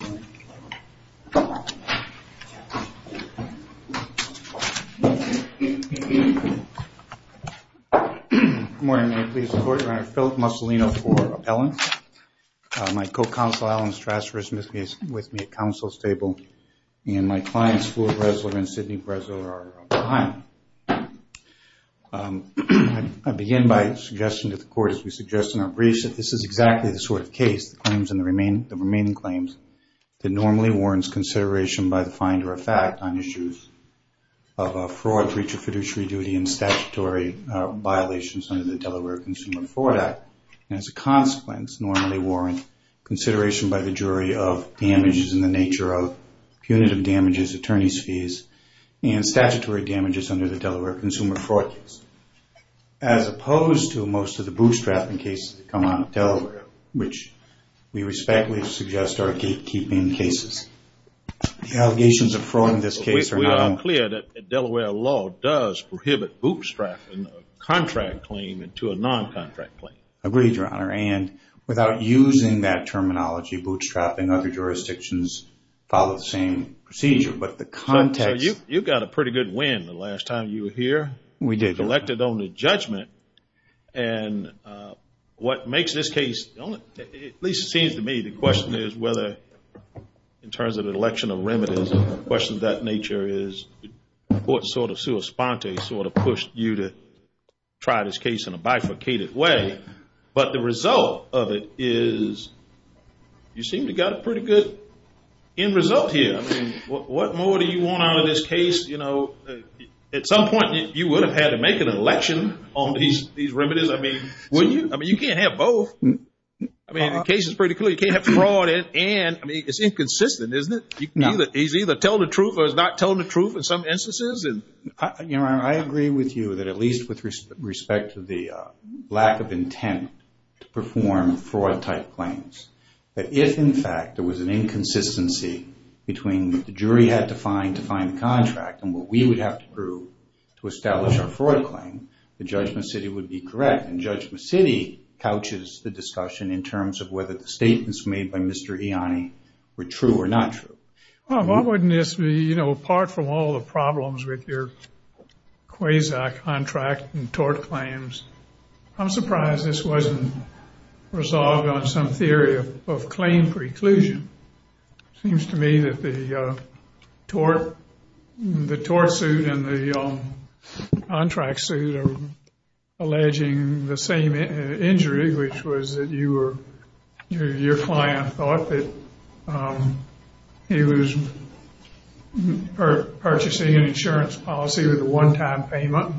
Good morning, may it please the Court, Your Honor. Philip Mussolino for appellant. My co-counsel, Alan Strasher, is with me at counsel's table. And my clients, Fleur Bresler and Sidney Bresler, are behind. I begin by suggesting to the Court, as we suggest in our briefs, that this is exactly the sort of case, the remaining claims, that normally warrants consideration by the finder of fact on issues of fraud, breach of fiduciary duty, and statutory violations under the Delaware Consumer Fraud Act. And as a consequence, normally warrant consideration by the jury of damages in the nature of punitive damages, attorney's fees, and statutory damages under the Delaware Consumer Fraud Case. As opposed to most of the bootstrapping cases that come out of Delaware, which we respectfully suggest are gatekeeping cases, the allegations of fraud in this case are not unclear. We are clear that Delaware law does prohibit bootstrapping a contract claim into a non-contract claim. Agreed, Your Honor. And without using that terminology, bootstrapping other jurisdictions follow the same procedure. But the context... So you got a pretty good win the last time you were here. We did. Elected on the judgment. And what makes this case, at least it seems to me, the question is whether, in terms of an election of remedies and questions of that nature, is what sort of sua sponte sort of pushed you to try this case in a bifurcated way. But the result of it is you seem to have got a pretty good end result here. I mean, what more do you want out of this case? You know, at some point you would have had to make an election on these remedies. I mean, you can't have both. I mean, the case is pretty clear. You can't have fraud and it's inconsistent, isn't it? He's either telling the truth or he's not telling the truth in some instances. Your Honor, I agree with you that at least with respect to the lack of intent to perform fraud-type claims, that if, in fact, there was an inconsistency between what the jury had to find to find the contract and what we would have to prove to establish our fraud claim, the judgment city would be correct. And judgment city couches the discussion in terms of whether the statements made by Mr. Ianni were true or not true. Well, why wouldn't this be, you know, apart from all the problems with your quasar contract and tort claims, I'm surprised this wasn't resolved on some theory of claim preclusion. It seems to me that the tort suit and the contract suit are alleging the same injury, which was that your client thought that he was purchasing an insurance policy with a one-time payment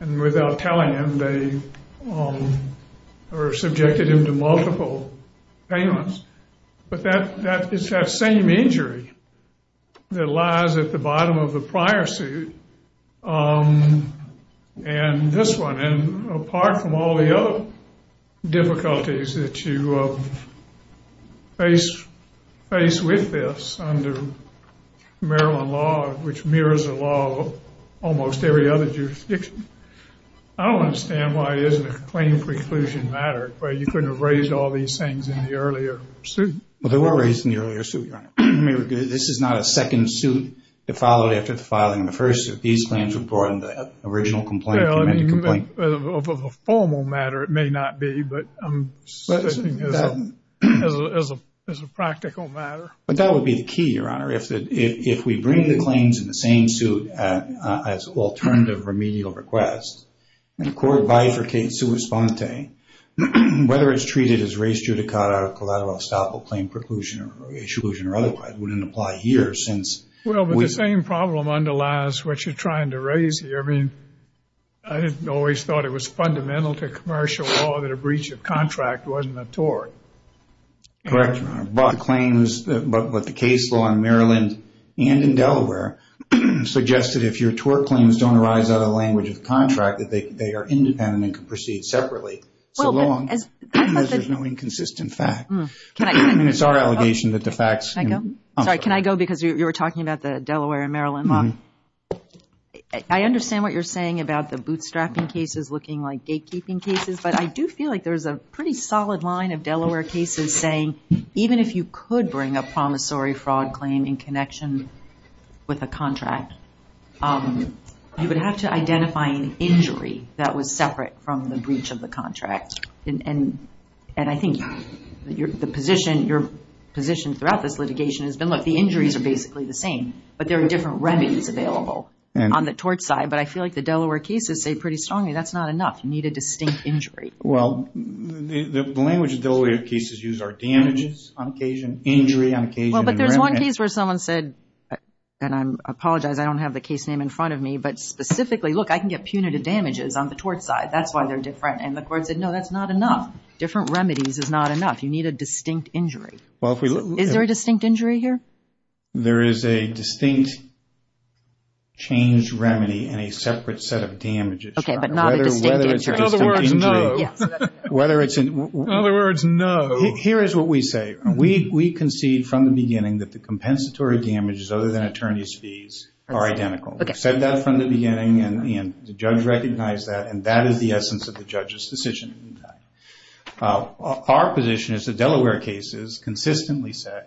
and without telling him they were subjected him to multiple payments. But that is that same injury that lies at the bottom of the prior suit and this one. And apart from all the other difficulties that you face with this under Maryland law, which mirrors the law of almost every other jurisdiction, I don't understand why it isn't a claim preclusion matter where you couldn't have raised all these things in the earlier suit. Well, they were raised in the earlier suit, Your Honor. I mean, this is not a second suit that followed after the filing of the first. These claims were brought in the original complaint. Well, I mean, of a formal matter, it may not be, but I'm suggesting as a practical matter. But that would be the key, Your Honor, if we bring the claims in the same suit as alternative remedial requests and the court bifurcates sui sponte, whether it's treated as res judicata or collateral estoppel claim preclusion or exclusion or otherwise wouldn't apply here since Well, but the same problem underlies what you're trying to raise here. I mean, I didn't always thought it was fundamental to commercial law that a breach of contract wasn't a tort. Correct, Your Honor. But the case law in Maryland and in Delaware suggested if your tort claims don't arise out of the language of the contract that they are independent and can proceed separately. So long as there's no inconsistent fact. I mean, it's our allegation that the facts can Can I go? Sorry, can I go because you were talking about the Delaware and Maryland law. I understand what you're saying about the bootstrapping cases looking like gatekeeping cases, but I do feel like there's a pretty solid line of Delaware cases saying, even if you could bring a promissory fraud claim in connection with a contract, you would have to identify an injury that was separate from the breach of the contract. And I think the position, your position throughout this litigation has been like the injuries are basically the same, but there are different remedies available on the tort side. But I feel like the Delaware cases say pretty strongly that's not enough. You need a distinct injury. Well, the language Delaware cases use are damages on occasion, injury on occasion. Well, but there's one case where someone said, and I apologize, I don't have the case name in front of me, but specifically, look, I can get punitive damages on the tort side. That's why they're different. And the court said, no, that's not enough. Different remedies is not enough. You need a distinct injury. Is there a distinct injury here? There is a distinct change remedy and a separate set of damages. Okay, but not a distinct injury. In other words, no. In other words, no. Here is what we say. We concede from the beginning that the compensatory damages other than attorney's fees are identical. We've said that from the beginning and the judge recognized that, and that is the essence of the judge's decision. Our position is the Delaware cases consistently say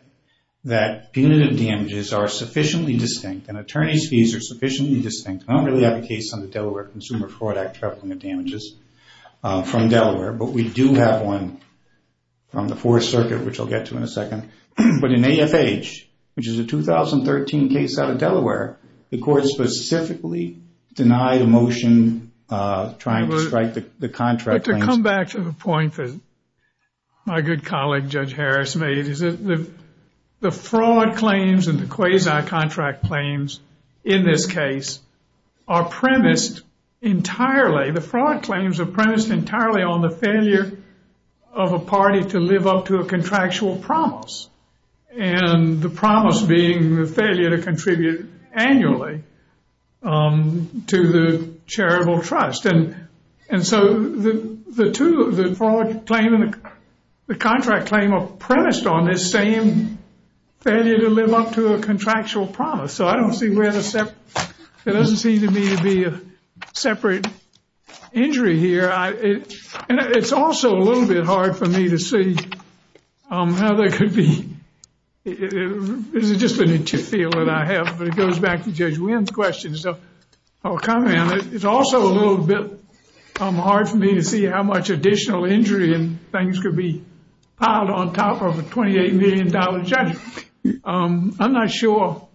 that punitive damages are sufficiently distinct and attorney's fees are sufficiently distinct. I don't really have a case on the Delaware Consumer Fraud Act for punitive damages from Delaware, but we do have one from the Fourth Circuit, which I'll get to in a second. But in AFH, which is a 2013 case out of Delaware, the court specifically denied a motion trying to strike the contract. But to come back to the point that my good colleague Judge Harris made, the fraud claims and the quasi-contract claims in this case are premised entirely. The fraud claims are premised entirely on the failure of a party to live up to a contractual promise, and the promise being the failure to contribute annually to the charitable trust. And so the contract claim are premised on this same failure to live up to a contractual promise. So it doesn't seem to me to be a separate injury here. It's also a little bit hard for me to see how they could be. It's just an interfere that I have, but it goes back to Judge Wynn's question. It's also a little bit hard for me to see how much additional injury and things could be piled on top of a $28 million judgment. I'm not sure.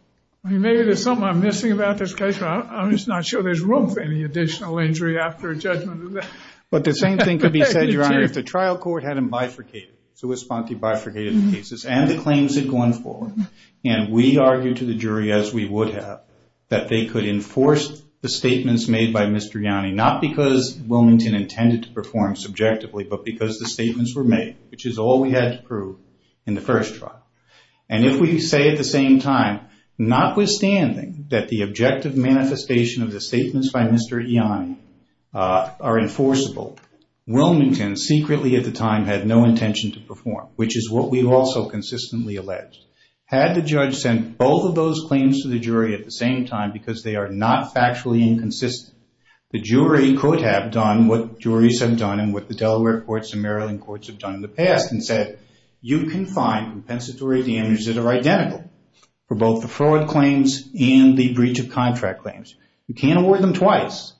Maybe there's something I'm missing about this case, but I'm just not sure there's room for any additional injury after a judgment. But the same thing could be said, Your Honor, if the trial court hadn't bifurcated, so Esponti bifurcated the cases and the claims had gone forward, and we argued to the jury, as we would have, that they could enforce the statements made by Mr. Ianni, not because Wilmington intended to perform subjectively, but because the statements were made, which is all we had to prove in the first trial. And if we say at the same time, notwithstanding that the objective manifestation of the statements by Mr. Ianni are enforceable, Wilmington secretly at the time had no intention to perform, which is what we've also consistently alleged, had the judge sent both of those claims to the jury at the same time because they are not factually inconsistent, the jury could have done what juries have done and what the Delaware courts and Maryland courts have done in the past and said you can find compensatory damages that are identical for both the fraud claims and the breach of contract claims. You can't award them twice,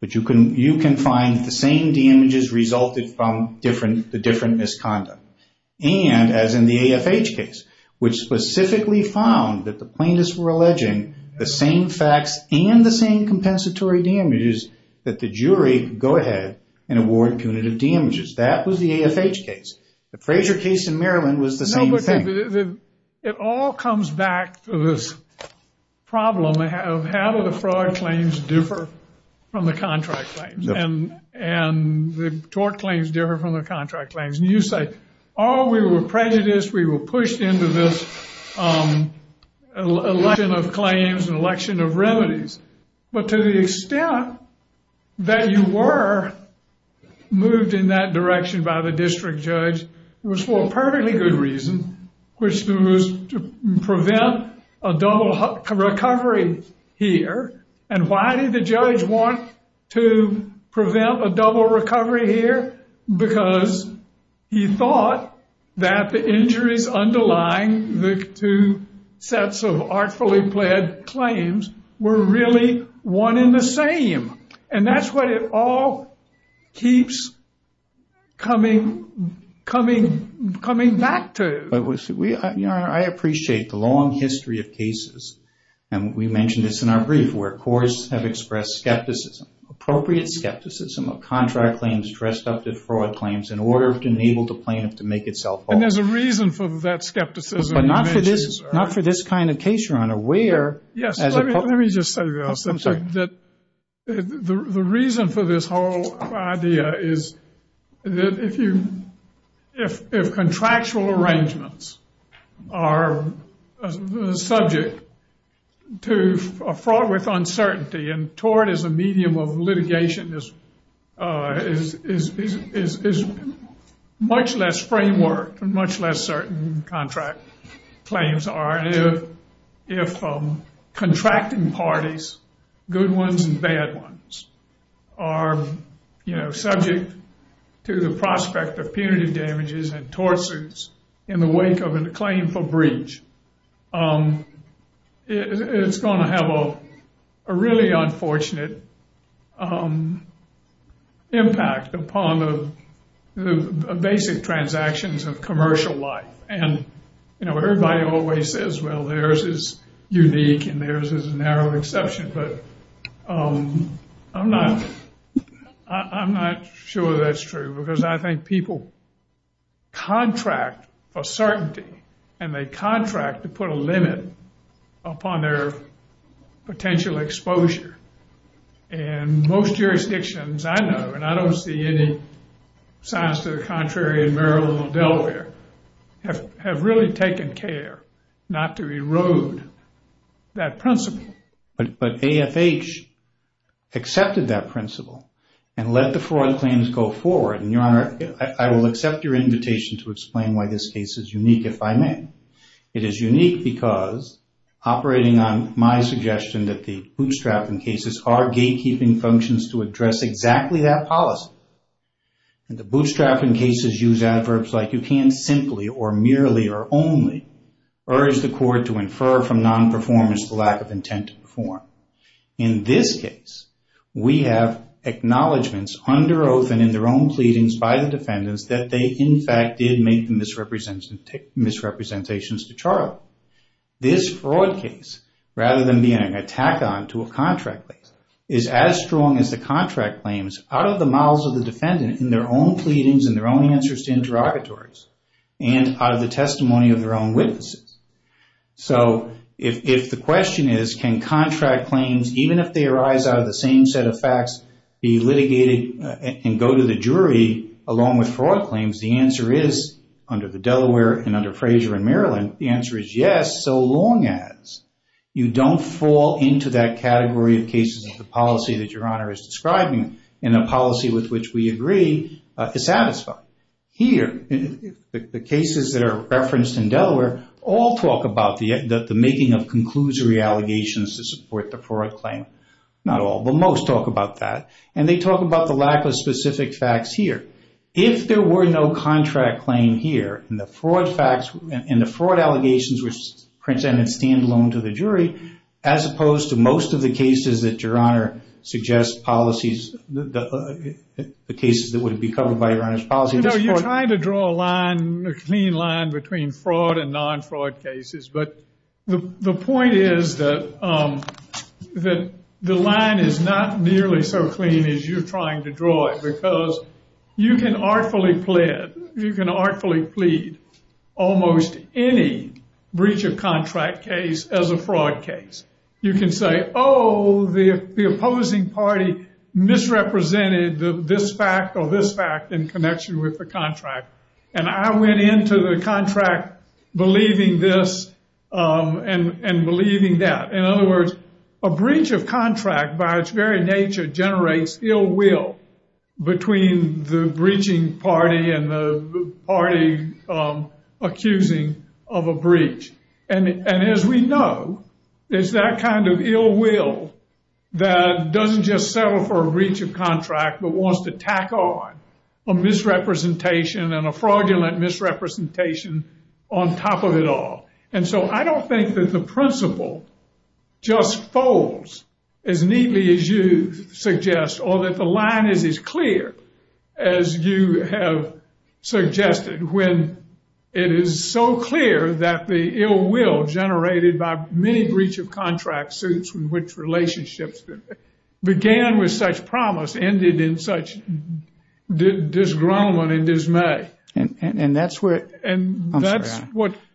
but you can find the same damages resulted from the different misconduct. And as in the AFH case, which specifically found that the plaintiffs were alleging the same facts and the same compensatory damages that the jury could go ahead and award punitive damages. That was the AFH case. The Frazier case in Maryland was the same thing. It all comes back to this problem of how do the fraud claims differ from the contract claims? And the tort claims differ from the contract claims. And you say, oh, we were prejudiced, we were pushed into this election of claims and election of remedies. But to the extent that you were moved in that direction by the district judge was for a perfectly good reason, which was to prevent a double recovery here. And why did the judge want to prevent a double recovery here? Because he thought that the injuries underlying the two sets of artfully pled claims were really one and the same. And that's what it all keeps coming back to. I appreciate the long history of cases. And we mentioned this in our brief where courts have expressed skepticism, appropriate skepticism of contract claims dressed up as fraud claims in order to enable the plaintiff to make itself whole. And there's a reason for that skepticism. But not for this kind of case, Your Honor. Yes, let me just say this. The reason for this whole idea is if contractual arrangements are subject to a fraud with uncertainty and tort as a medium of litigation is much less framework, much less certain contract claims are. And if contracting parties, good ones and bad ones, are subject to the prospect of punitive damages and tort suits in the wake of a claim for breach, it's going to have a really unfortunate impact upon the basic transactions of commercial life. And, you know, everybody always says, well, theirs is unique and theirs is a narrow exception. But I'm not sure that's true because I think people contract for certainty and they contract to put a limit upon their potential exposure. And most jurisdictions I know, and I don't see any signs to the contrary in Maryland or Delaware, have really taken care not to erode that principle. But AFH accepted that principle and let the fraud claims go forward. Your Honor, I will accept your invitation to explain why this case is unique if I may. It is unique because operating on my suggestion that the bootstrapping cases are gatekeeping functions to address exactly that policy. The bootstrapping cases use adverbs like you can't simply or merely or only urge the court to infer from non-performance the lack of intent to perform. In this case, we have acknowledgments under oath and in their own pleadings by the defendants that they in fact did make the misrepresentations to Charlie. This fraud case, rather than being an attack on to a contract claim, is as strong as the contract claims out of the mouths of the defendant in their own pleadings and their own answers to interrogatories and out of the testimony of their own witnesses. So if the question is, can contract claims, even if they arise out of the same set of facts, be litigated and go to the jury along with fraud claims, the answer is, under the Delaware and under Frazier in Maryland, the answer is yes, so long as you don't fall into that category of cases of the policy that Your Honor is describing and the policy with which we agree is satisfied. Here, the cases that are referenced in Delaware all talk about the making of conclusory allegations to support the fraud claim. Not all, but most talk about that. And they talk about the lack of specific facts here. If there were no contract claim here and the fraud allegations were presented standalone to the jury, as opposed to most of the cases that Your Honor You know, you're trying to draw a line, a clean line between fraud and non-fraud cases, but the point is that the line is not nearly so clean as you're trying to draw it, because you can artfully plead almost any breach of contract case as a fraud case. You can say, oh, the opposing party misrepresented this fact or this fact in connection with the contract. And I went into the contract believing this and believing that. In other words, a breach of contract by its very nature generates ill will between the breaching party and the party accusing of a breach. And as we know, it's that kind of ill will that doesn't just settle for a breach of contract, but wants to tack on a misrepresentation and a fraudulent misrepresentation on top of it all. And so I don't think that the principle just folds as neatly as you suggest or that the line is as clear as you have suggested, when it is so clear that the ill will generated by many breach of contract suits in which relationships began with such promise ended in such disgruntlement and dismay.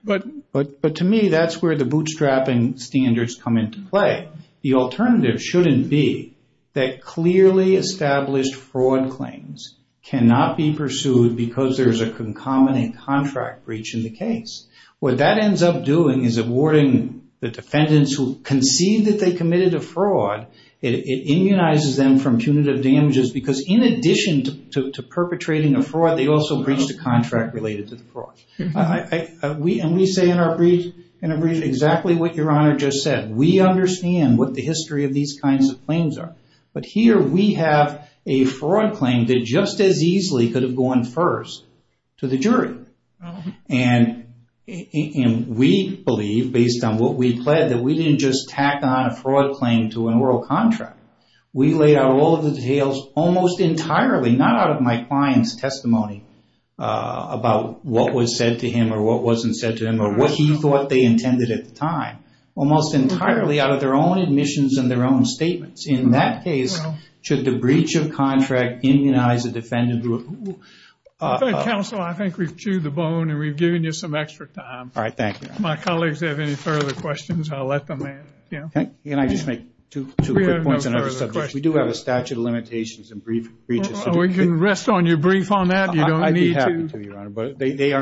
But to me, that's where the bootstrapping standards come into play. The alternative shouldn't be that clearly established fraud claims cannot be pursued because there is a concomitant contract breach in the case. What that ends up doing is awarding the defendants who concede that they committed a fraud. It immunizes them from punitive damages because in addition to perpetrating a fraud, they also breached a contract related to the fraud. And we say in our brief exactly what Your Honor just said. We understand what the history of these kinds of claims are. But here we have a fraud claim that just as easily could have gone first to the jury. And we believe, based on what we pled, that we didn't just tack on a fraud claim to an oral contract. We laid out all of the details almost entirely, not out of my client's testimony, about what was said to him or what wasn't said to him or what he thought they intended at the time. Almost entirely out of their own admissions and their own statements. In that case, should the breach of contract immunize a defendant who... I think we've chewed the bone and we've given you some extra time. My colleagues have any further questions, I'll let them in. Can I just make two quick points on another subject? We do have a statute of limitations and brief breaches. We can rest on your brief on that. You don't need to. I'd be happy to, Your Honor,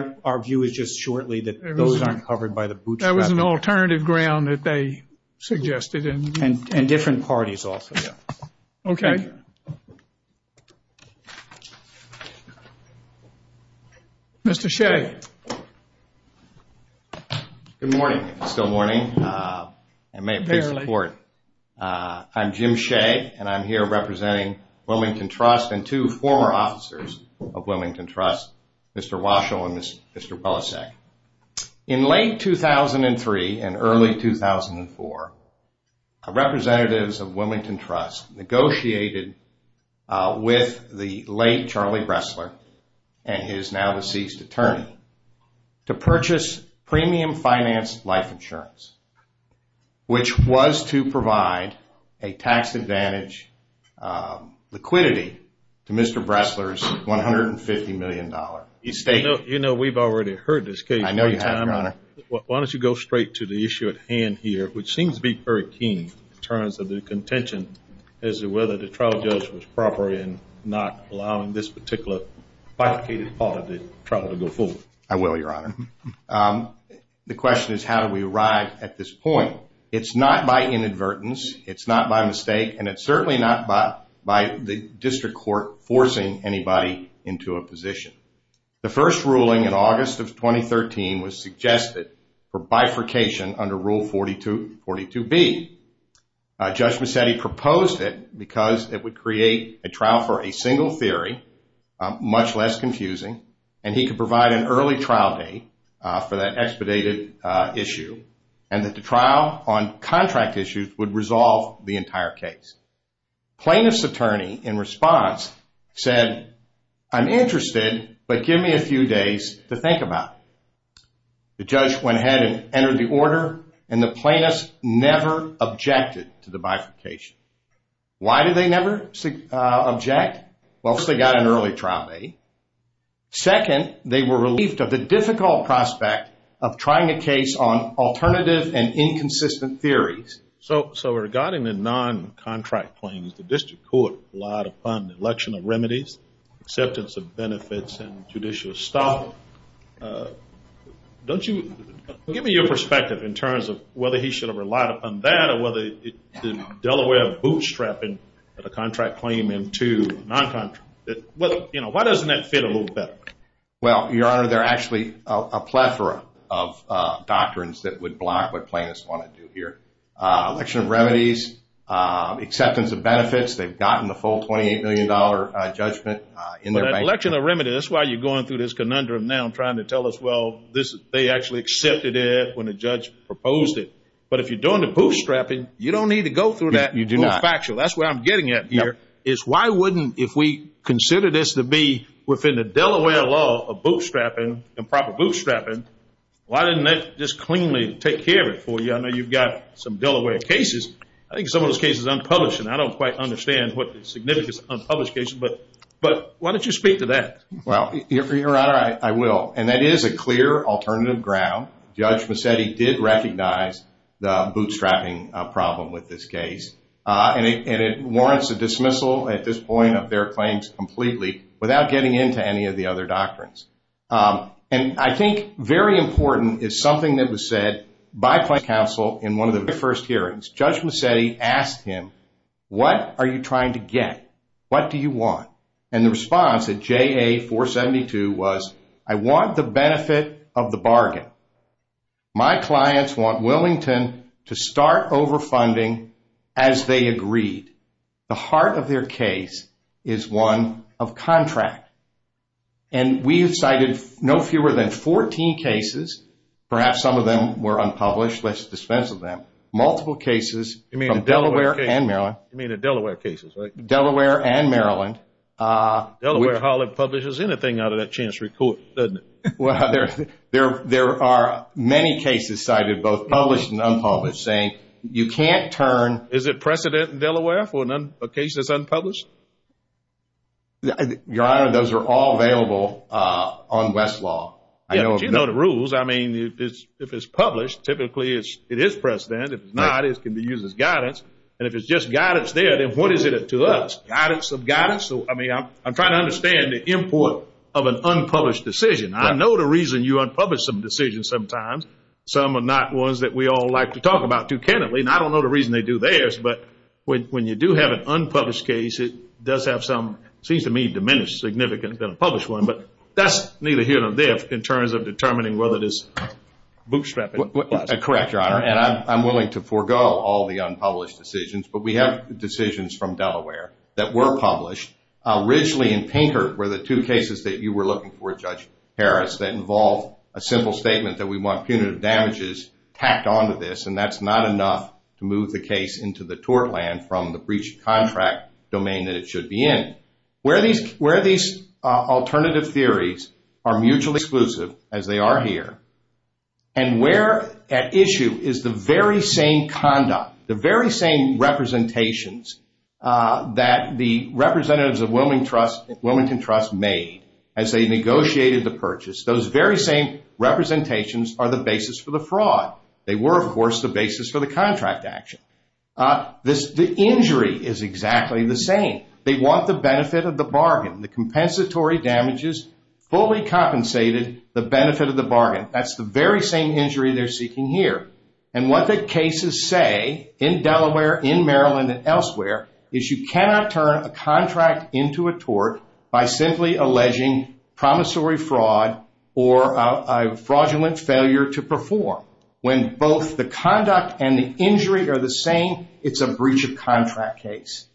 but our view is just shortly that those aren't covered by the bootstrapping. That was an alternative ground that they suggested. And different parties also. Okay. Mr. Shea. Good morning, if it's still morning. I'm Jim Shea and I'm here representing Wilmington Trust and two former officers of Wilmington Trust, Mr. Waschel and Mr. Belasek. In late 2003 and early 2004, representatives of Wilmington Trust negotiated with the late Charlie Bressler and his now deceased attorney to purchase premium finance life insurance, which was to provide a tax advantage liquidity to Mr. Bressler's $150 million estate. You know, we've already heard this case. I know you have, Your Honor. Why don't you go straight to the issue at hand here, which seems to be very keen in terms of the contention as to whether the trial judge was proper in not allowing this particular bifurcated part of the trial to go forward. I will, Your Honor. The question is how do we arrive at this point? It's not by inadvertence. It's not by mistake. And it's certainly not by the district court forcing anybody into a position. The first ruling in August of 2013 was suggested for bifurcation under Rule 42B. Judge Mazzetti proposed it because it would create a trial for a single theory, much less confusing, and he could provide an early trial date for that expedited issue and that the trial on contract issues would resolve the entire case. Plaintiff's attorney, in response, said, I'm interested, but give me a few days to think about it. The judge went ahead and entered the order, and the plaintiffs never objected to the bifurcation. Why did they never object? Well, first, they got an early trial date. Second, they were relieved of the difficult prospect of trying a case on alternative and inconsistent theories. So regarding the non-contract claims, the district court relied upon the election of remedies. Give me your perspective in terms of whether he should have relied upon that or whether the Delaware bootstrapping of a contract claim into non-contract. Why doesn't that fit a little better? Well, your honor, there are actually a plethora of doctrines that would block what plaintiffs want to do here. Election of remedies, acceptance of benefits, they've gotten the full $28 million judgment in their bank account. Election of remedies, that's why you're going through this conundrum now, trying to tell us, well, they actually accepted it when the judge proposed it. But if you're doing the bootstrapping, you don't need to go through that. You do not. That's what I'm getting at here, is why wouldn't if we considered this to be within the Delaware law of bootstrapping, improper bootstrapping, why didn't they just cleanly take care of it for you? I know you've got some unpublished, and I don't quite understand what the significance of unpublished cases, but why don't you speak to that? Well, your honor, I will. And that is a clear alternative ground. Judge Mazzetti did recognize the bootstrapping problem with this case. And it warrants a dismissal at this point of their claims completely without getting into any of the other doctrines. And I think very important is something that was said by plaintiff's counsel in one of their first hearings. Judge Mazzetti asked him, what are you trying to get? What do you want? And the response at JA 472 was, I want the benefit of the bargain. My clients want Willington to start overfunding as they agreed. The heart of their case is one of contract. And we have cited no fewer than 14 cases. Perhaps some of them were unpublished. Let's dispense with them. Multiple cases from Delaware and Maryland. You mean the Delaware cases, right? Delaware and Maryland. Delaware hardly publishes anything out of that chance report, doesn't it? Well, there are many cases cited, both published and unpublished, saying you can't turn... Is it precedent in Delaware for a case that's unpublished? Your Honor, those are all available on Westlaw. You know the rules. I mean, if it's published, typically it is precedent. If it's not, it can be used as guidance. And if it's just guidance there, then what is it to us? Guidance of guidance? I mean, I'm trying to understand the import of an unpublished decision. I know the reason you unpublish some decisions sometimes. Some are not ones that we all like to talk about too candidly. And I don't know the reason they do theirs. But when you do have an unpublished case, it does have some, it seems to me, diminished significance than a published one. But that's neither here nor there in terms of determining whether it is bootstrapping. Correct, Your Honor. And I'm willing to forego all the unpublished decisions. But we have decisions from Delaware that were published. Originally in Pinkert were the two cases that you were looking for, Judge Harris, that involved a simple statement that we want punitive damages tacked onto this. And that's not enough to move the case into the tort land from the breach of contract domain that it should be in. Where these alternative theories are mutually exclusive, as they are here, and where at issue is the very same conduct, the very same representations that the representatives of Wilmington Trust made as they negotiated the purchase. Those very same representations are the basis for the fraud. They were, of course, the basis for the contract action. The injury is exactly the same. They want the benefit of the bargain. The compensatory damages fully compensated the benefit of the bargain. That's the very same injury they're seeking here. And what the cases say, in Delaware, in Maryland, and elsewhere, is you cannot turn a contract into a tort by simply alleging promissory fraud or a fraudulent failure to perform. When both the conduct and the injury are the same, it's a breach of contract case.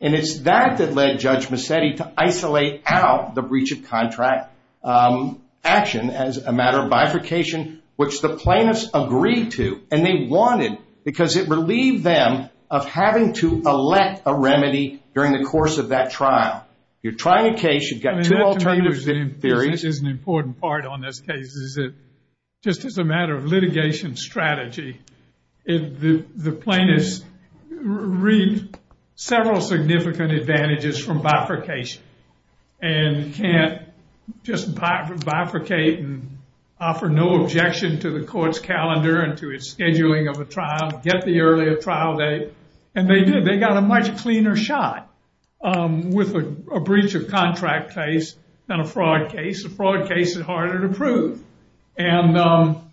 And it's that that led Judge Macedi to isolate out the breach of contract action as a matter of bifurcation, which the plaintiffs agreed to. And they wanted, because it relieved them of having to elect a remedy during the course of that trial. You're trying a case, you've got two alternative theories. That is an important part on this case, is that just as a matter of litigation strategy, the plaintiffs reaped several significant advantages from bifurcation. And can't just bifurcate and offer no objection to the court's calendar and to its scheduling of a trial, get the earlier trial date. And they did. They got a much cleaner shot with a breach of contract case than a fraud case. A fraud case is harder to prove. And so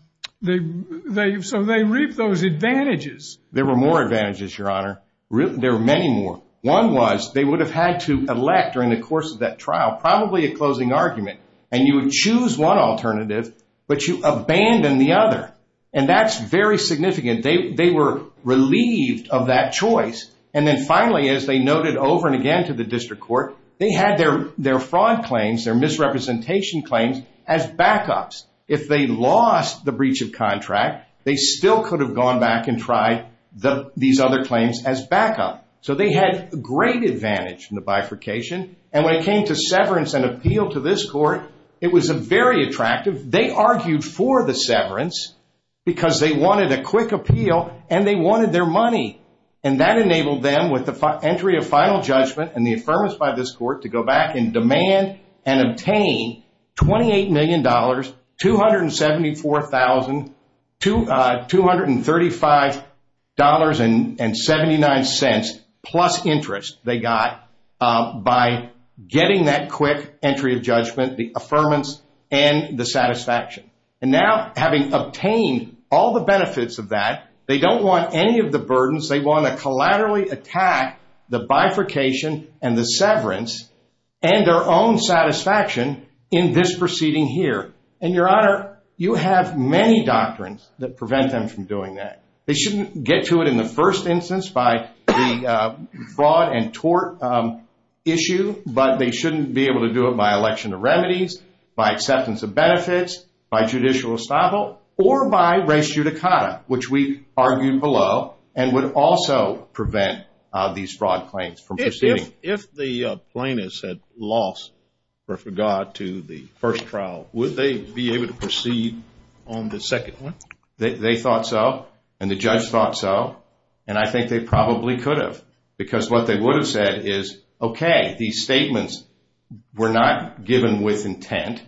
they reaped those advantages. There were more advantages, Your Honor. There were many more. One was, they would have had to elect during the course of that trial, probably a closing argument. And you would choose one alternative, but you abandon the other. And that's very significant. They were relieved of that choice. And then finally, as they noted over and again to the district court, they had their fraud claims, their misrepresentation claims as backups. If they lost the breach of contract, they still could have gone back and tried these other claims as backup. So they had great advantage in the bifurcation. And when it came to severance and appeal to this court, it was very attractive. They argued for the severance because they wanted a quick appeal and they wanted their money. And that enabled them with the entry of judgment to obtain $28 million, $274,000, $235.79 plus interest they got by getting that quick entry of judgment, the affirmance and the satisfaction. And now having obtained all the benefits of that, they don't want any of the burdens. They want to collaterally attack the bifurcation and the severance and their own satisfaction in this proceeding here. And Your Honor, you have many doctrines that prevent them from doing that. They shouldn't get to it in the first instance by the fraud and tort issue, but they shouldn't be able to do it by election of remedies, by acceptance of benefits, by judicial estoppel, or by res judicata, which we argued below and would also prevent these fraud claims from proceeding. If the plaintiffs had lost regard to the first trial, would they be able to proceed on the second one? They thought so and the judge thought so. And I think they probably could have because what they would have said is, okay, these statements were not given with intent,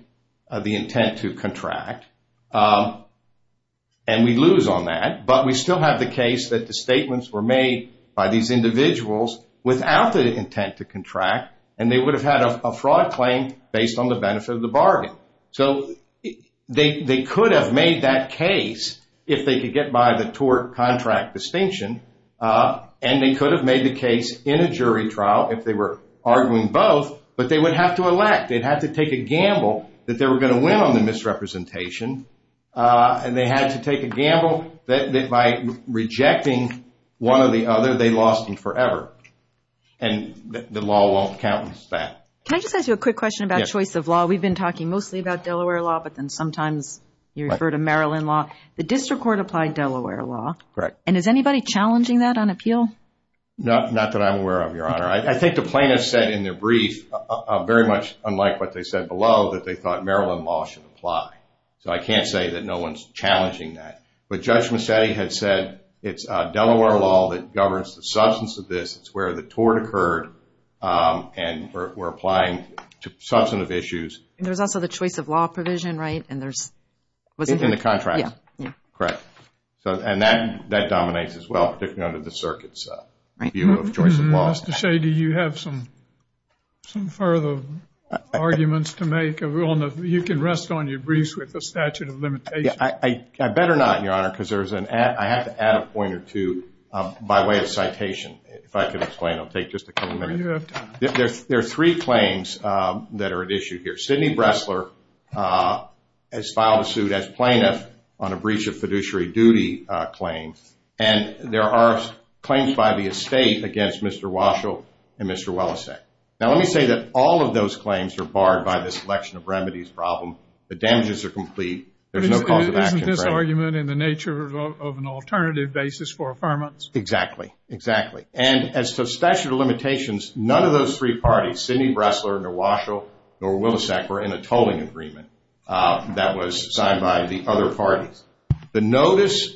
the intent to contract. And we lose on that, but we still have the case that the statements were made by these individuals without the intent to contract and they would have had a fraud claim based on the benefit of the bargain. So they could have made that case if they could get by the tort contract distinction and they could have made the case in a jury trial if they were arguing both, but they would have to elect. They'd have to take a gamble that they were going to win on the misrepresentation. And they had to take a gamble that by rejecting one or the other, they lost forever. And the law won't count against that. Can I just ask you a quick question about choice of law? We've been talking mostly about Delaware law, but then sometimes you refer to Maryland law. The district court applied Delaware law. And is anybody challenging that on appeal? Not that I'm aware of, Your Honor. I think the plaintiffs said in their brief, very much unlike what they said below, that they thought Maryland law should apply. So I can't say that no one's challenging that. But Judge Massetti had said it's Delaware law that governs the substance of this. It's where the tort occurred and we're applying substantive issues. And there's also the choice of law provision, right? In the contract. Correct. And that dominates as well, particularly under the circuit's view of choice of law. Mr. Shady, do you have some further arguments to make? You can rest on your briefs with the statute of limitations. I better not, Your Honor, because I have to add a point or two by way of citation. If I can explain, I'll take just a couple minutes. There are three claims that are at issue here. Sidney Bressler has filed a suit as plaintiff on a breach of fiduciary duty claim. And there are claims by the estate against Mr. Waschel and Mr. Welleseck. Now let me say that all of those claims are barred by this selection of remedies problem. The damages are complete. There's no cause of action. Isn't this argument in the nature of an alternative basis for affirmance? Exactly. And as to statute of limitations, none of those three parties, Sidney Bressler, nor Waschel, nor Welleseck, were in a tolling agreement that was signed by the other parties. The notice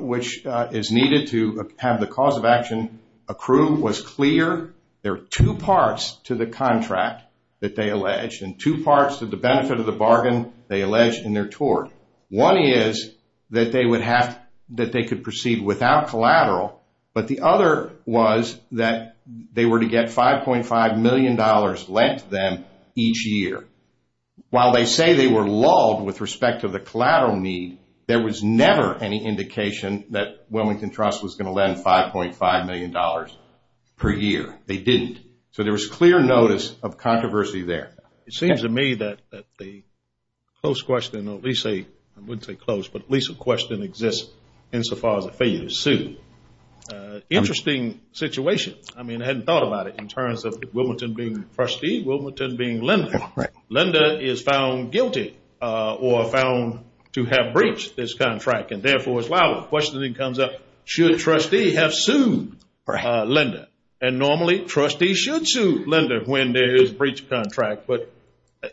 which is needed to have the cause of action accrued was clear. There are two parts to the contract that they alleged, and two parts to the benefit of the bargain they alleged in their tort. One is that they could proceed without collateral, but the other was that they were to get $5.5 million lent to them each year. While they say they were lulled with respect to the collateral need, there was never any indication that Wilmington Trust was going to lend $5.5 million per year. They didn't. So there was clear notice of controversy there. It seems to me that the close question, or at least a I wouldn't say close, but at least a question exists insofar as a failure to sue. Interesting situation. I mean, I hadn't thought about it in terms of Wilmington being trustee, Wilmington being lender. Lender is found guilty or found to have breached this contract, and therefore it's liable. The question then comes up, should trustee have sued lender? And normally, trustee should sue lender when there is a breach of contract. But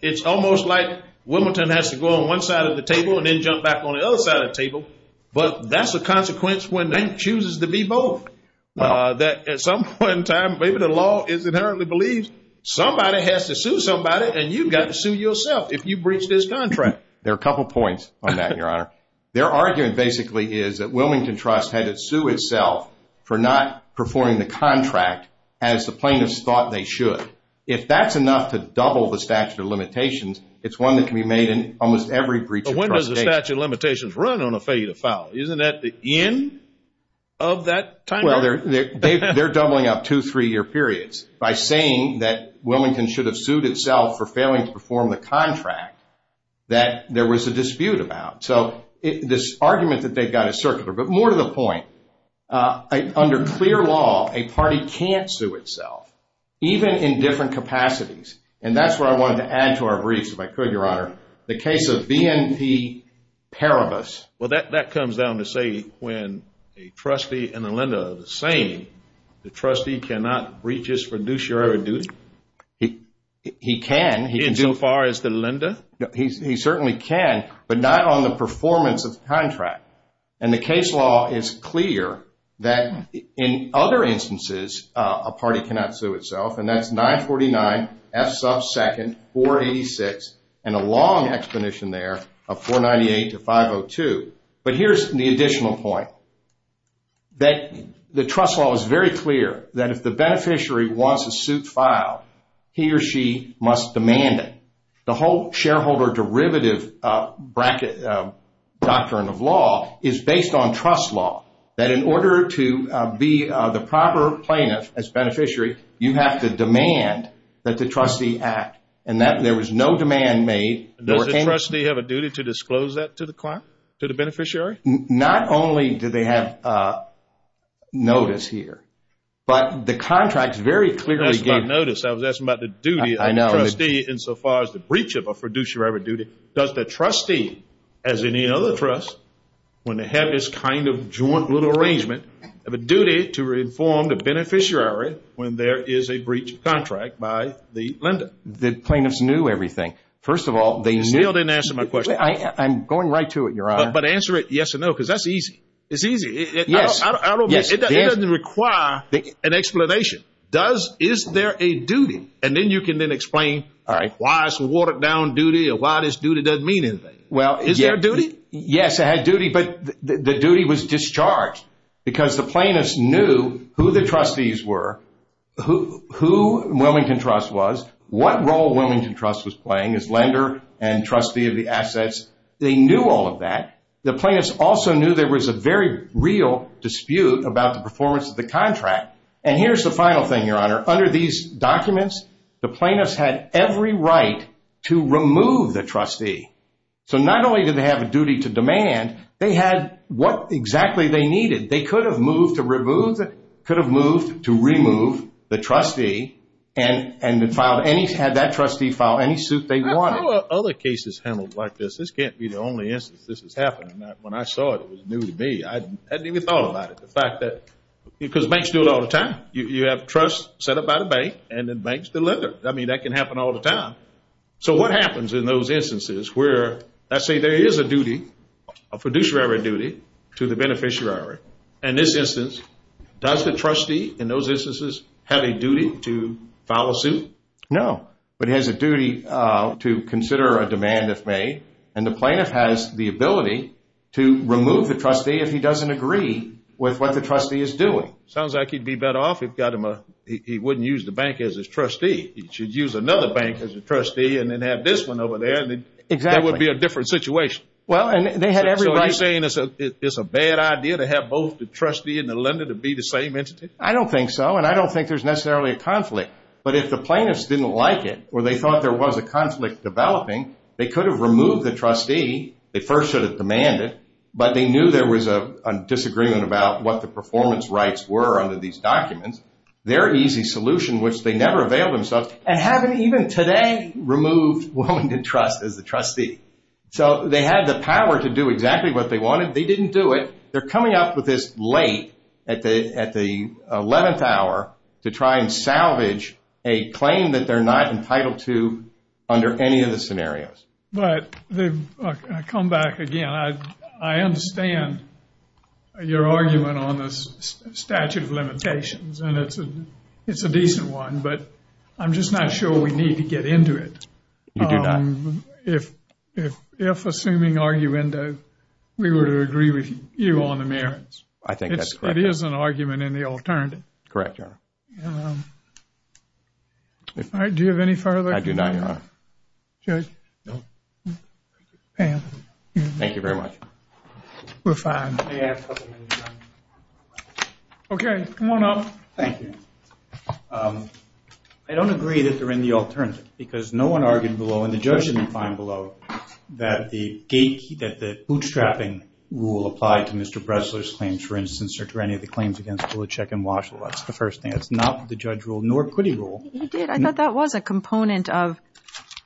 it's almost like Wilmington has to go on one side of the table and then jump back on the other side of the table. But that's a consequence when they chooses to be both. At some point in time, maybe the law is inherently believes somebody has to sue somebody, and you've got to sue yourself if you breach this contract. There are a couple of points on that, Your Honor. Their argument basically is that Wilmington Trust had to sue itself for not performing the contract as the plaintiffs thought they should. If that's enough to double the statute of limitations, it's one that can be made in almost every breach of trust. When does the statute of limitations run on a failure to file? Isn't that the end of that Well, they're doubling up two, three-year periods by saying that Wilmington should have sued itself for failing to perform the contract that there was a dispute about. So this argument that they've got is circular. But more to the point, under clear law, a party can't sue itself, even in different capacities. And that's what I wanted to add to our briefs, if I could, Your Honor. The case of BNP Paribus. Well, that comes down to say when a trustee and a lender are the same, the trustee cannot breach his fiduciary duty. He can, so far as the lender. He certainly can, but not on the performance of the contract. And the case law is clear that in other instances, a party cannot sue itself, and that's 949 F sub 2, 486, and a long exposition there of 498 to 502. But here's the additional point. The trust law is very clear that if the beneficiary wants a suit filed, he or she must demand it. The whole shareholder derivative doctrine of law is based on trust law. That in order to be the And that there was no demand made. Does the trustee have a duty to disclose that to the client? To the beneficiary? Not only do they have notice here, but the contract very clearly gave notice. I was asking about the duty of the trustee insofar as the breach of a fiduciary duty. Does the trustee, as any other trust, when they have this kind of joint little arrangement, have a duty to disclose that to the client? Yes and no, because that's easy. It's easy. It doesn't require an explanation. Is there a duty? And then you can then explain why it's a watered down duty or why this duty doesn't mean anything. Yes, it had duty, but the duty was discharged because the plaintiffs knew who the trustees were, who Wilmington Trust was, what role Wilmington Trust was playing as lender and trustee of the assets. They knew all of that. The plaintiffs also knew there was a very real dispute about the performance of the contract. And here's the final thing, Your Honor. Under these documents, the plaintiffs had every right to remove the trustee. So not only did they have a duty to demand, they had what exactly they needed. They could have moved to remove the trustee and had that trustee file any suit they wanted. How are other cases handled like this? This can't be the only instance this has happened. When I saw it, it was new to me. I hadn't even thought about it. Because banks do it all the time. You have trusts set up by the bank and then banks deliver. I mean, that can happen all the time. So what happens in those instances where, let's say there is a duty, a fiduciary duty to the beneficiary. In this instance, does the trustee in those instances have a duty to file a suit? No. But he has a duty to consider a demand if made. And the plaintiff has the ability to remove the trustee if he doesn't agree with what the trustee is doing. Sounds like he'd be better off if he wouldn't use the bank as his trustee. He should use another bank as a trustee and then have this one over there. That would be a different situation. So are you saying it's a bad idea to have both the trustee and the lender to be the same entity? I don't think so. And I don't think there's necessarily a conflict. But if the plaintiffs didn't like it or they thought there was a conflict developing, they could have removed the trustee. They first should have demanded. But they knew there was a disagreement about what the performance rights were under these documents. Their easy solution, which they never availed themselves, and haven't even today removed Wilmington Trust as the trustee. So they had the power to do exactly what they wanted. They didn't do it. They're coming up with this late at the 11th hour to try and salvage a claim that they're not entitled to under any of the scenarios. I come back again. I understand your argument on this statute of limitations. And it's a decent one. But I'm just not sure we need to get into it. You do not. If assuming arguendo, we were to agree with you on the merits. I think that's correct. It is an argument in the alternative. Correct, Your Honor. Do you have any further? I do not, Your Honor. Judge? No. Thank you very much. We're fine. Okay. Come on up. Thank you. I don't agree that they're in the alternative. Because no one argued below, and the judge didn't find below, that the bootstrapping rule applied to Mr. Bressler's claims, for instance, or to any of the claims against Bluchek and Washlow. That's the first thing. That's not what the judge ruled, nor could he rule. He did. I thought that was a component of,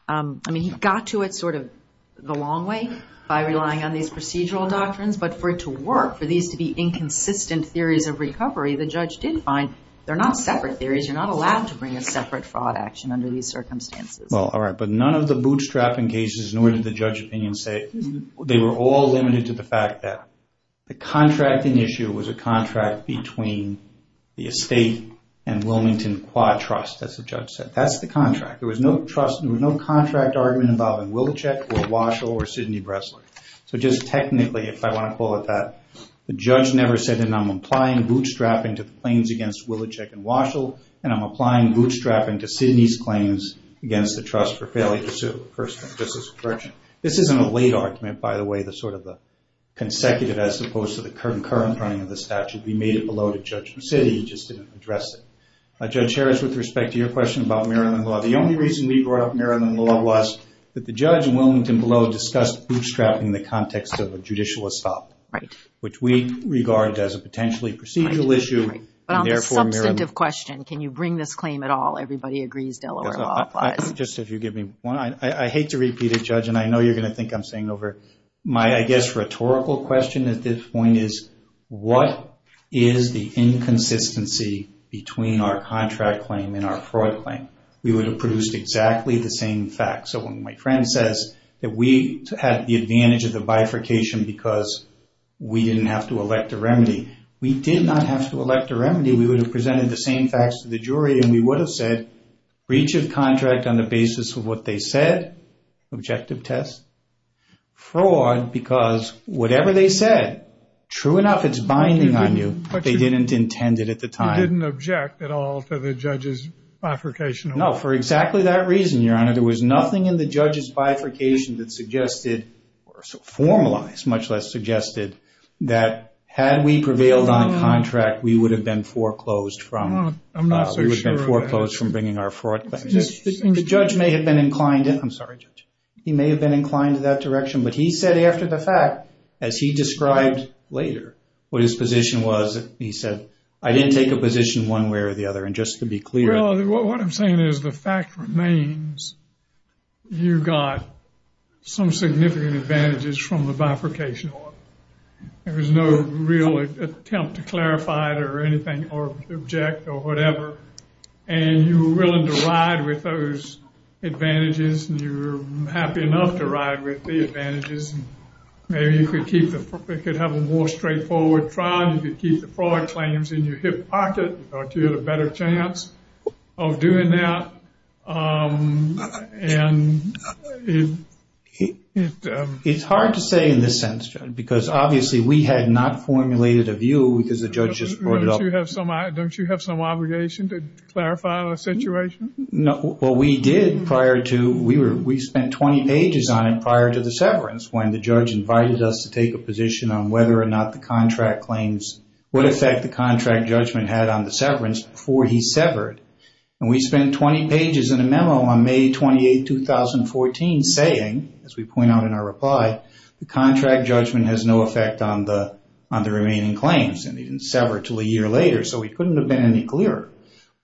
I mean, he got to it sort of the long way by relying on these procedural doctrines. But for it to work, for these to be inconsistent theories of recovery, the judge did find they're not separate theories. You're not allowed to bring a separate fraud action under these circumstances. Well, all right. But none of the bootstrapping cases, nor did the judge opinion say, they were all limited to the fact that the contracting issue was a contract between the estate and Wilmington Quad Trust, as the judge said. That's the contract. There was no contract argument involving Wilchek or Washlow or Sidney Bressler. So just technically, if I want to call it that, the judge never said, and I'm applying bootstrapping to the these claims against the trust for failure to sue. This is a late argument, by the way, the sort of the consecutive, as opposed to the current running of the statute. We made it below to Judge Resetti. He just didn't address it. Judge Harris, with respect to your question about Maryland law, the only reason we brought up Maryland law was that the judge in Wilmington below discussed bootstrapping in the context of a judicial estate, which we regarded as a potentially procedural issue, and therefore, Maryland. Just if you give me one, I hate to repeat it, Judge, and I know you're going to think I'm saying over my, I guess, rhetorical question at this point is, what is the inconsistency between our contract claim and our fraud claim? We would have produced exactly the same facts. So when my friend says that we did not have to elect a remedy, we would have presented the same facts to the jury, and we would have said breach of contract on the basis of what they said, objective test, fraud, because whatever they said, true enough, it's binding on you, but they didn't intend it at the time. You didn't object at all to the judge's bifurcation? No, for exactly that reason, Your Honor. There was nothing in the judge's bifurcation that suggested or formalized, much less suggested, that had we prevailed on contract, we would have been foreclosed from bringing our fraud claim. The judge may have been inclined, I'm sorry, Judge, he may have been inclined to that direction, but he said after the fact, as he described later, what his position was, he said, I didn't take a position one way or the other, and just to be clear. Well, what I'm saying is the fact remains, you got some significant advantages from the bifurcation order. There was no real attempt to clarify it or object or whatever, and you were willing to ride with those advantages, and you were happy enough to ride with the advantages, and maybe you could have a more straightforward trial, you could keep the advantage. It's hard to say in this sense, Judge, because obviously we had not formulated a view because the judge just brought it up. Don't you have some obligation to clarify the situation? No. Well, we did prior to, we spent 20 pages on it prior to the severance when the judge invited us to take a position on whether or not the contract claims, what effect the contract judgment had on the severance before he severed. And we spent 20 pages in a memo on May 28, 2014, saying, as we point out in our reply, the contract judgment has no effect on the remaining claims, and it didn't sever until a year later, so we couldn't have been any clearer.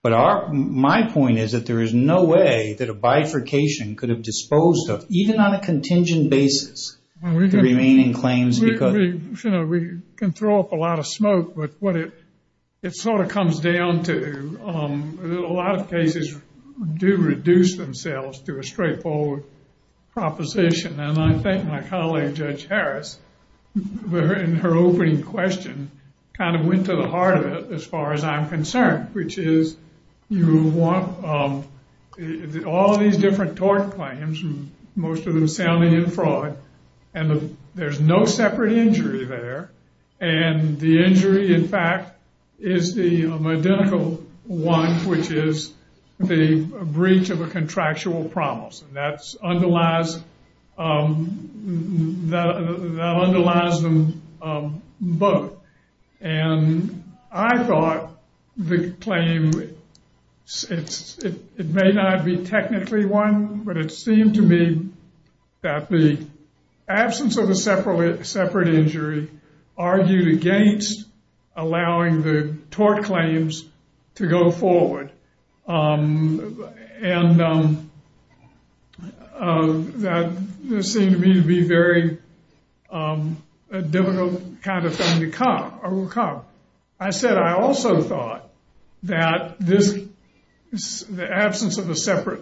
But my point is that there is no way that a bifurcation could have disposed of, even on a contingent basis, the remaining claims. We can throw up a lot of smoke, but it sort of comes down to a lot of cases do reduce themselves to a straightforward proposition. And I think my colleague, Judge Harris, in her opening question, kind of went to the heart of it as far as I'm concerned, which is you want all these different tort claims, most of them sounding in fraud, and there's no separate injury there, and the injury, in fact, is the identical one, which is the breach of a contractual promise. That underlies them both. And I thought the claim, it may not be technically one, but it seemed to me that the absence of a separate injury argued against allowing the tort claims to go forward. And that seemed to me to be a very difficult kind of thing to come. I said I also thought that the absence of a separate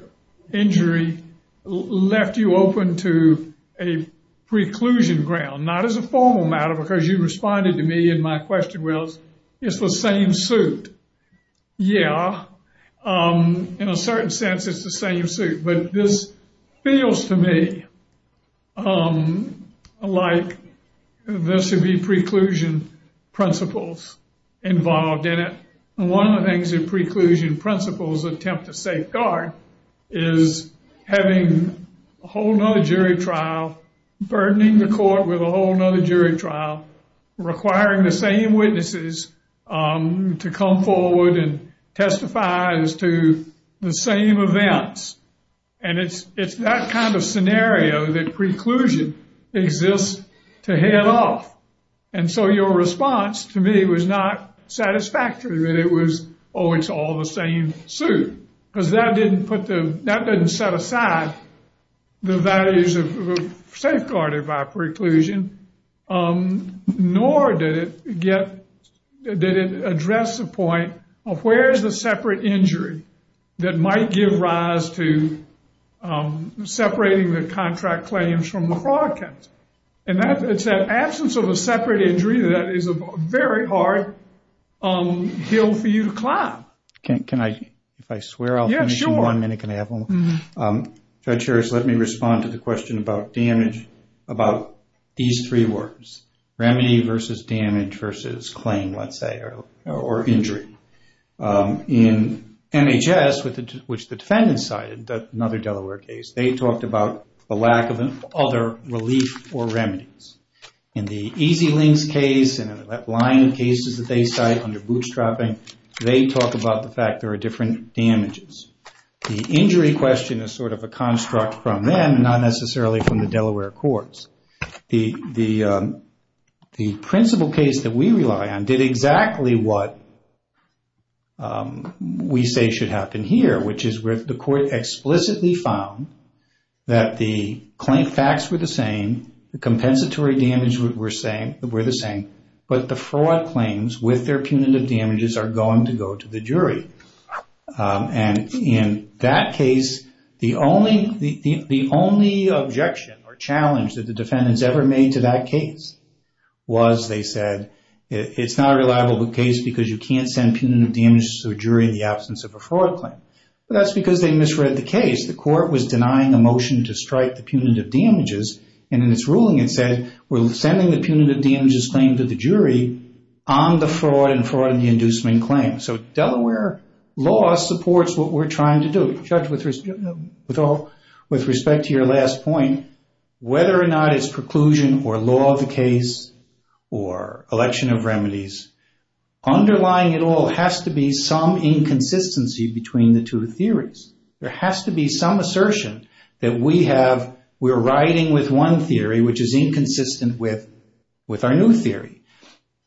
injury left you open to a preclusion ground, not as a formal matter, because you responded to me and my question was, it's the same suit. Yeah, in a certain sense, it's the same suit. But this feels to me like there should be preclusion principles involved in it. And one of the things that preclusion principles attempt to safeguard is having a whole nother jury trial, burdening the court with a whole nother jury trial, requiring the same witnesses to come forward and testify as to the same events. And it's that kind of scenario that preclusion exists to head off. And so your response to me was not satisfactory that it was, oh, it's all the same suit, because that didn't put the, that didn't set aside the values of safeguarded by preclusion, nor did it get, did it address the point of where's the separate injury that might give rise to separating the contract claims from the fraud counts. And that's that absence of a separate injury that is a very hard hill for you to climb. Can I, if I swear I'll finish in one minute, can I have one? Judge Harris, let me respond to the question about damage, about these three words. Remedy versus damage versus claim, let's say, or injury. In MHS, which the defendants cited, another Delaware case, they talked about the lack of other relief or remedies. In the Easy Links case and the Lyon cases that they cite under bootstrapping, they talk about the fact there are different damages. The injury question is sort of a construct from them, not necessarily from the Delaware courts. The principal case that we rely on did exactly what we say should happen here, which is where the court explicitly found that the claim facts were the same, the compensatory damage were the same, but the fraud claims with their punitive damages are going to go to the jury. And in that case, the only objection or challenge that the defendants ever made to that case was, they said, it's not a reliable case because you can't send punitive damages to a jury in the absence of a fraud claim. But that's because they misread the case. The court was denying a motion to strike the punitive damages. And in its ruling, it said, we're sending the punitive damages claim to the jury on the fraud and fraud in the inducement claim. So Delaware law supports what we're trying to do. Judge, with respect to your last point, whether or not it's preclusion or law of the case or election of remedies, underlying it all has to be some inconsistency between the two theories. There has to be some assertion that we're riding with one theory, which is inconsistent with our new theory.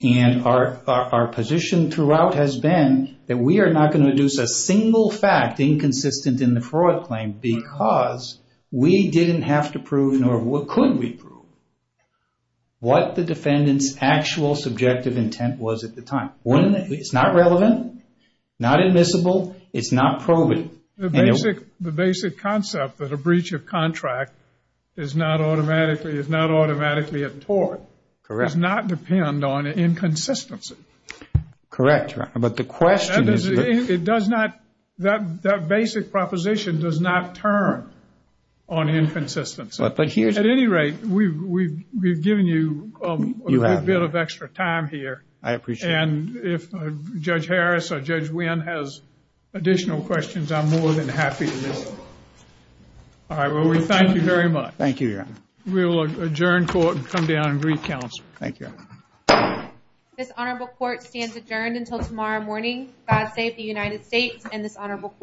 And our position throughout has been that we are not going to induce a single fact inconsistent in the fraud claim because we didn't have to prove nor could we prove what the defendant's actual subjective intent was at the time. It's not relevant, not admissible, it's not probative. The basic concept that a breach of contract is not automatically a tort does not depend on inconsistency. Correct, but the question is... That basic proposition does not turn on inconsistency. At any rate, we've given you a bit of extra time here. I appreciate it. And if Judge Harris or Judge Wynn has additional questions, I'm more than happy to listen. Alright, well we thank you very much. Thank you, Your Honor. We will adjourn court and come down and greet counsel. Thank you, Your Honor. This honorable court stands adjourned until tomorrow morning. God save the United States and this honorable court.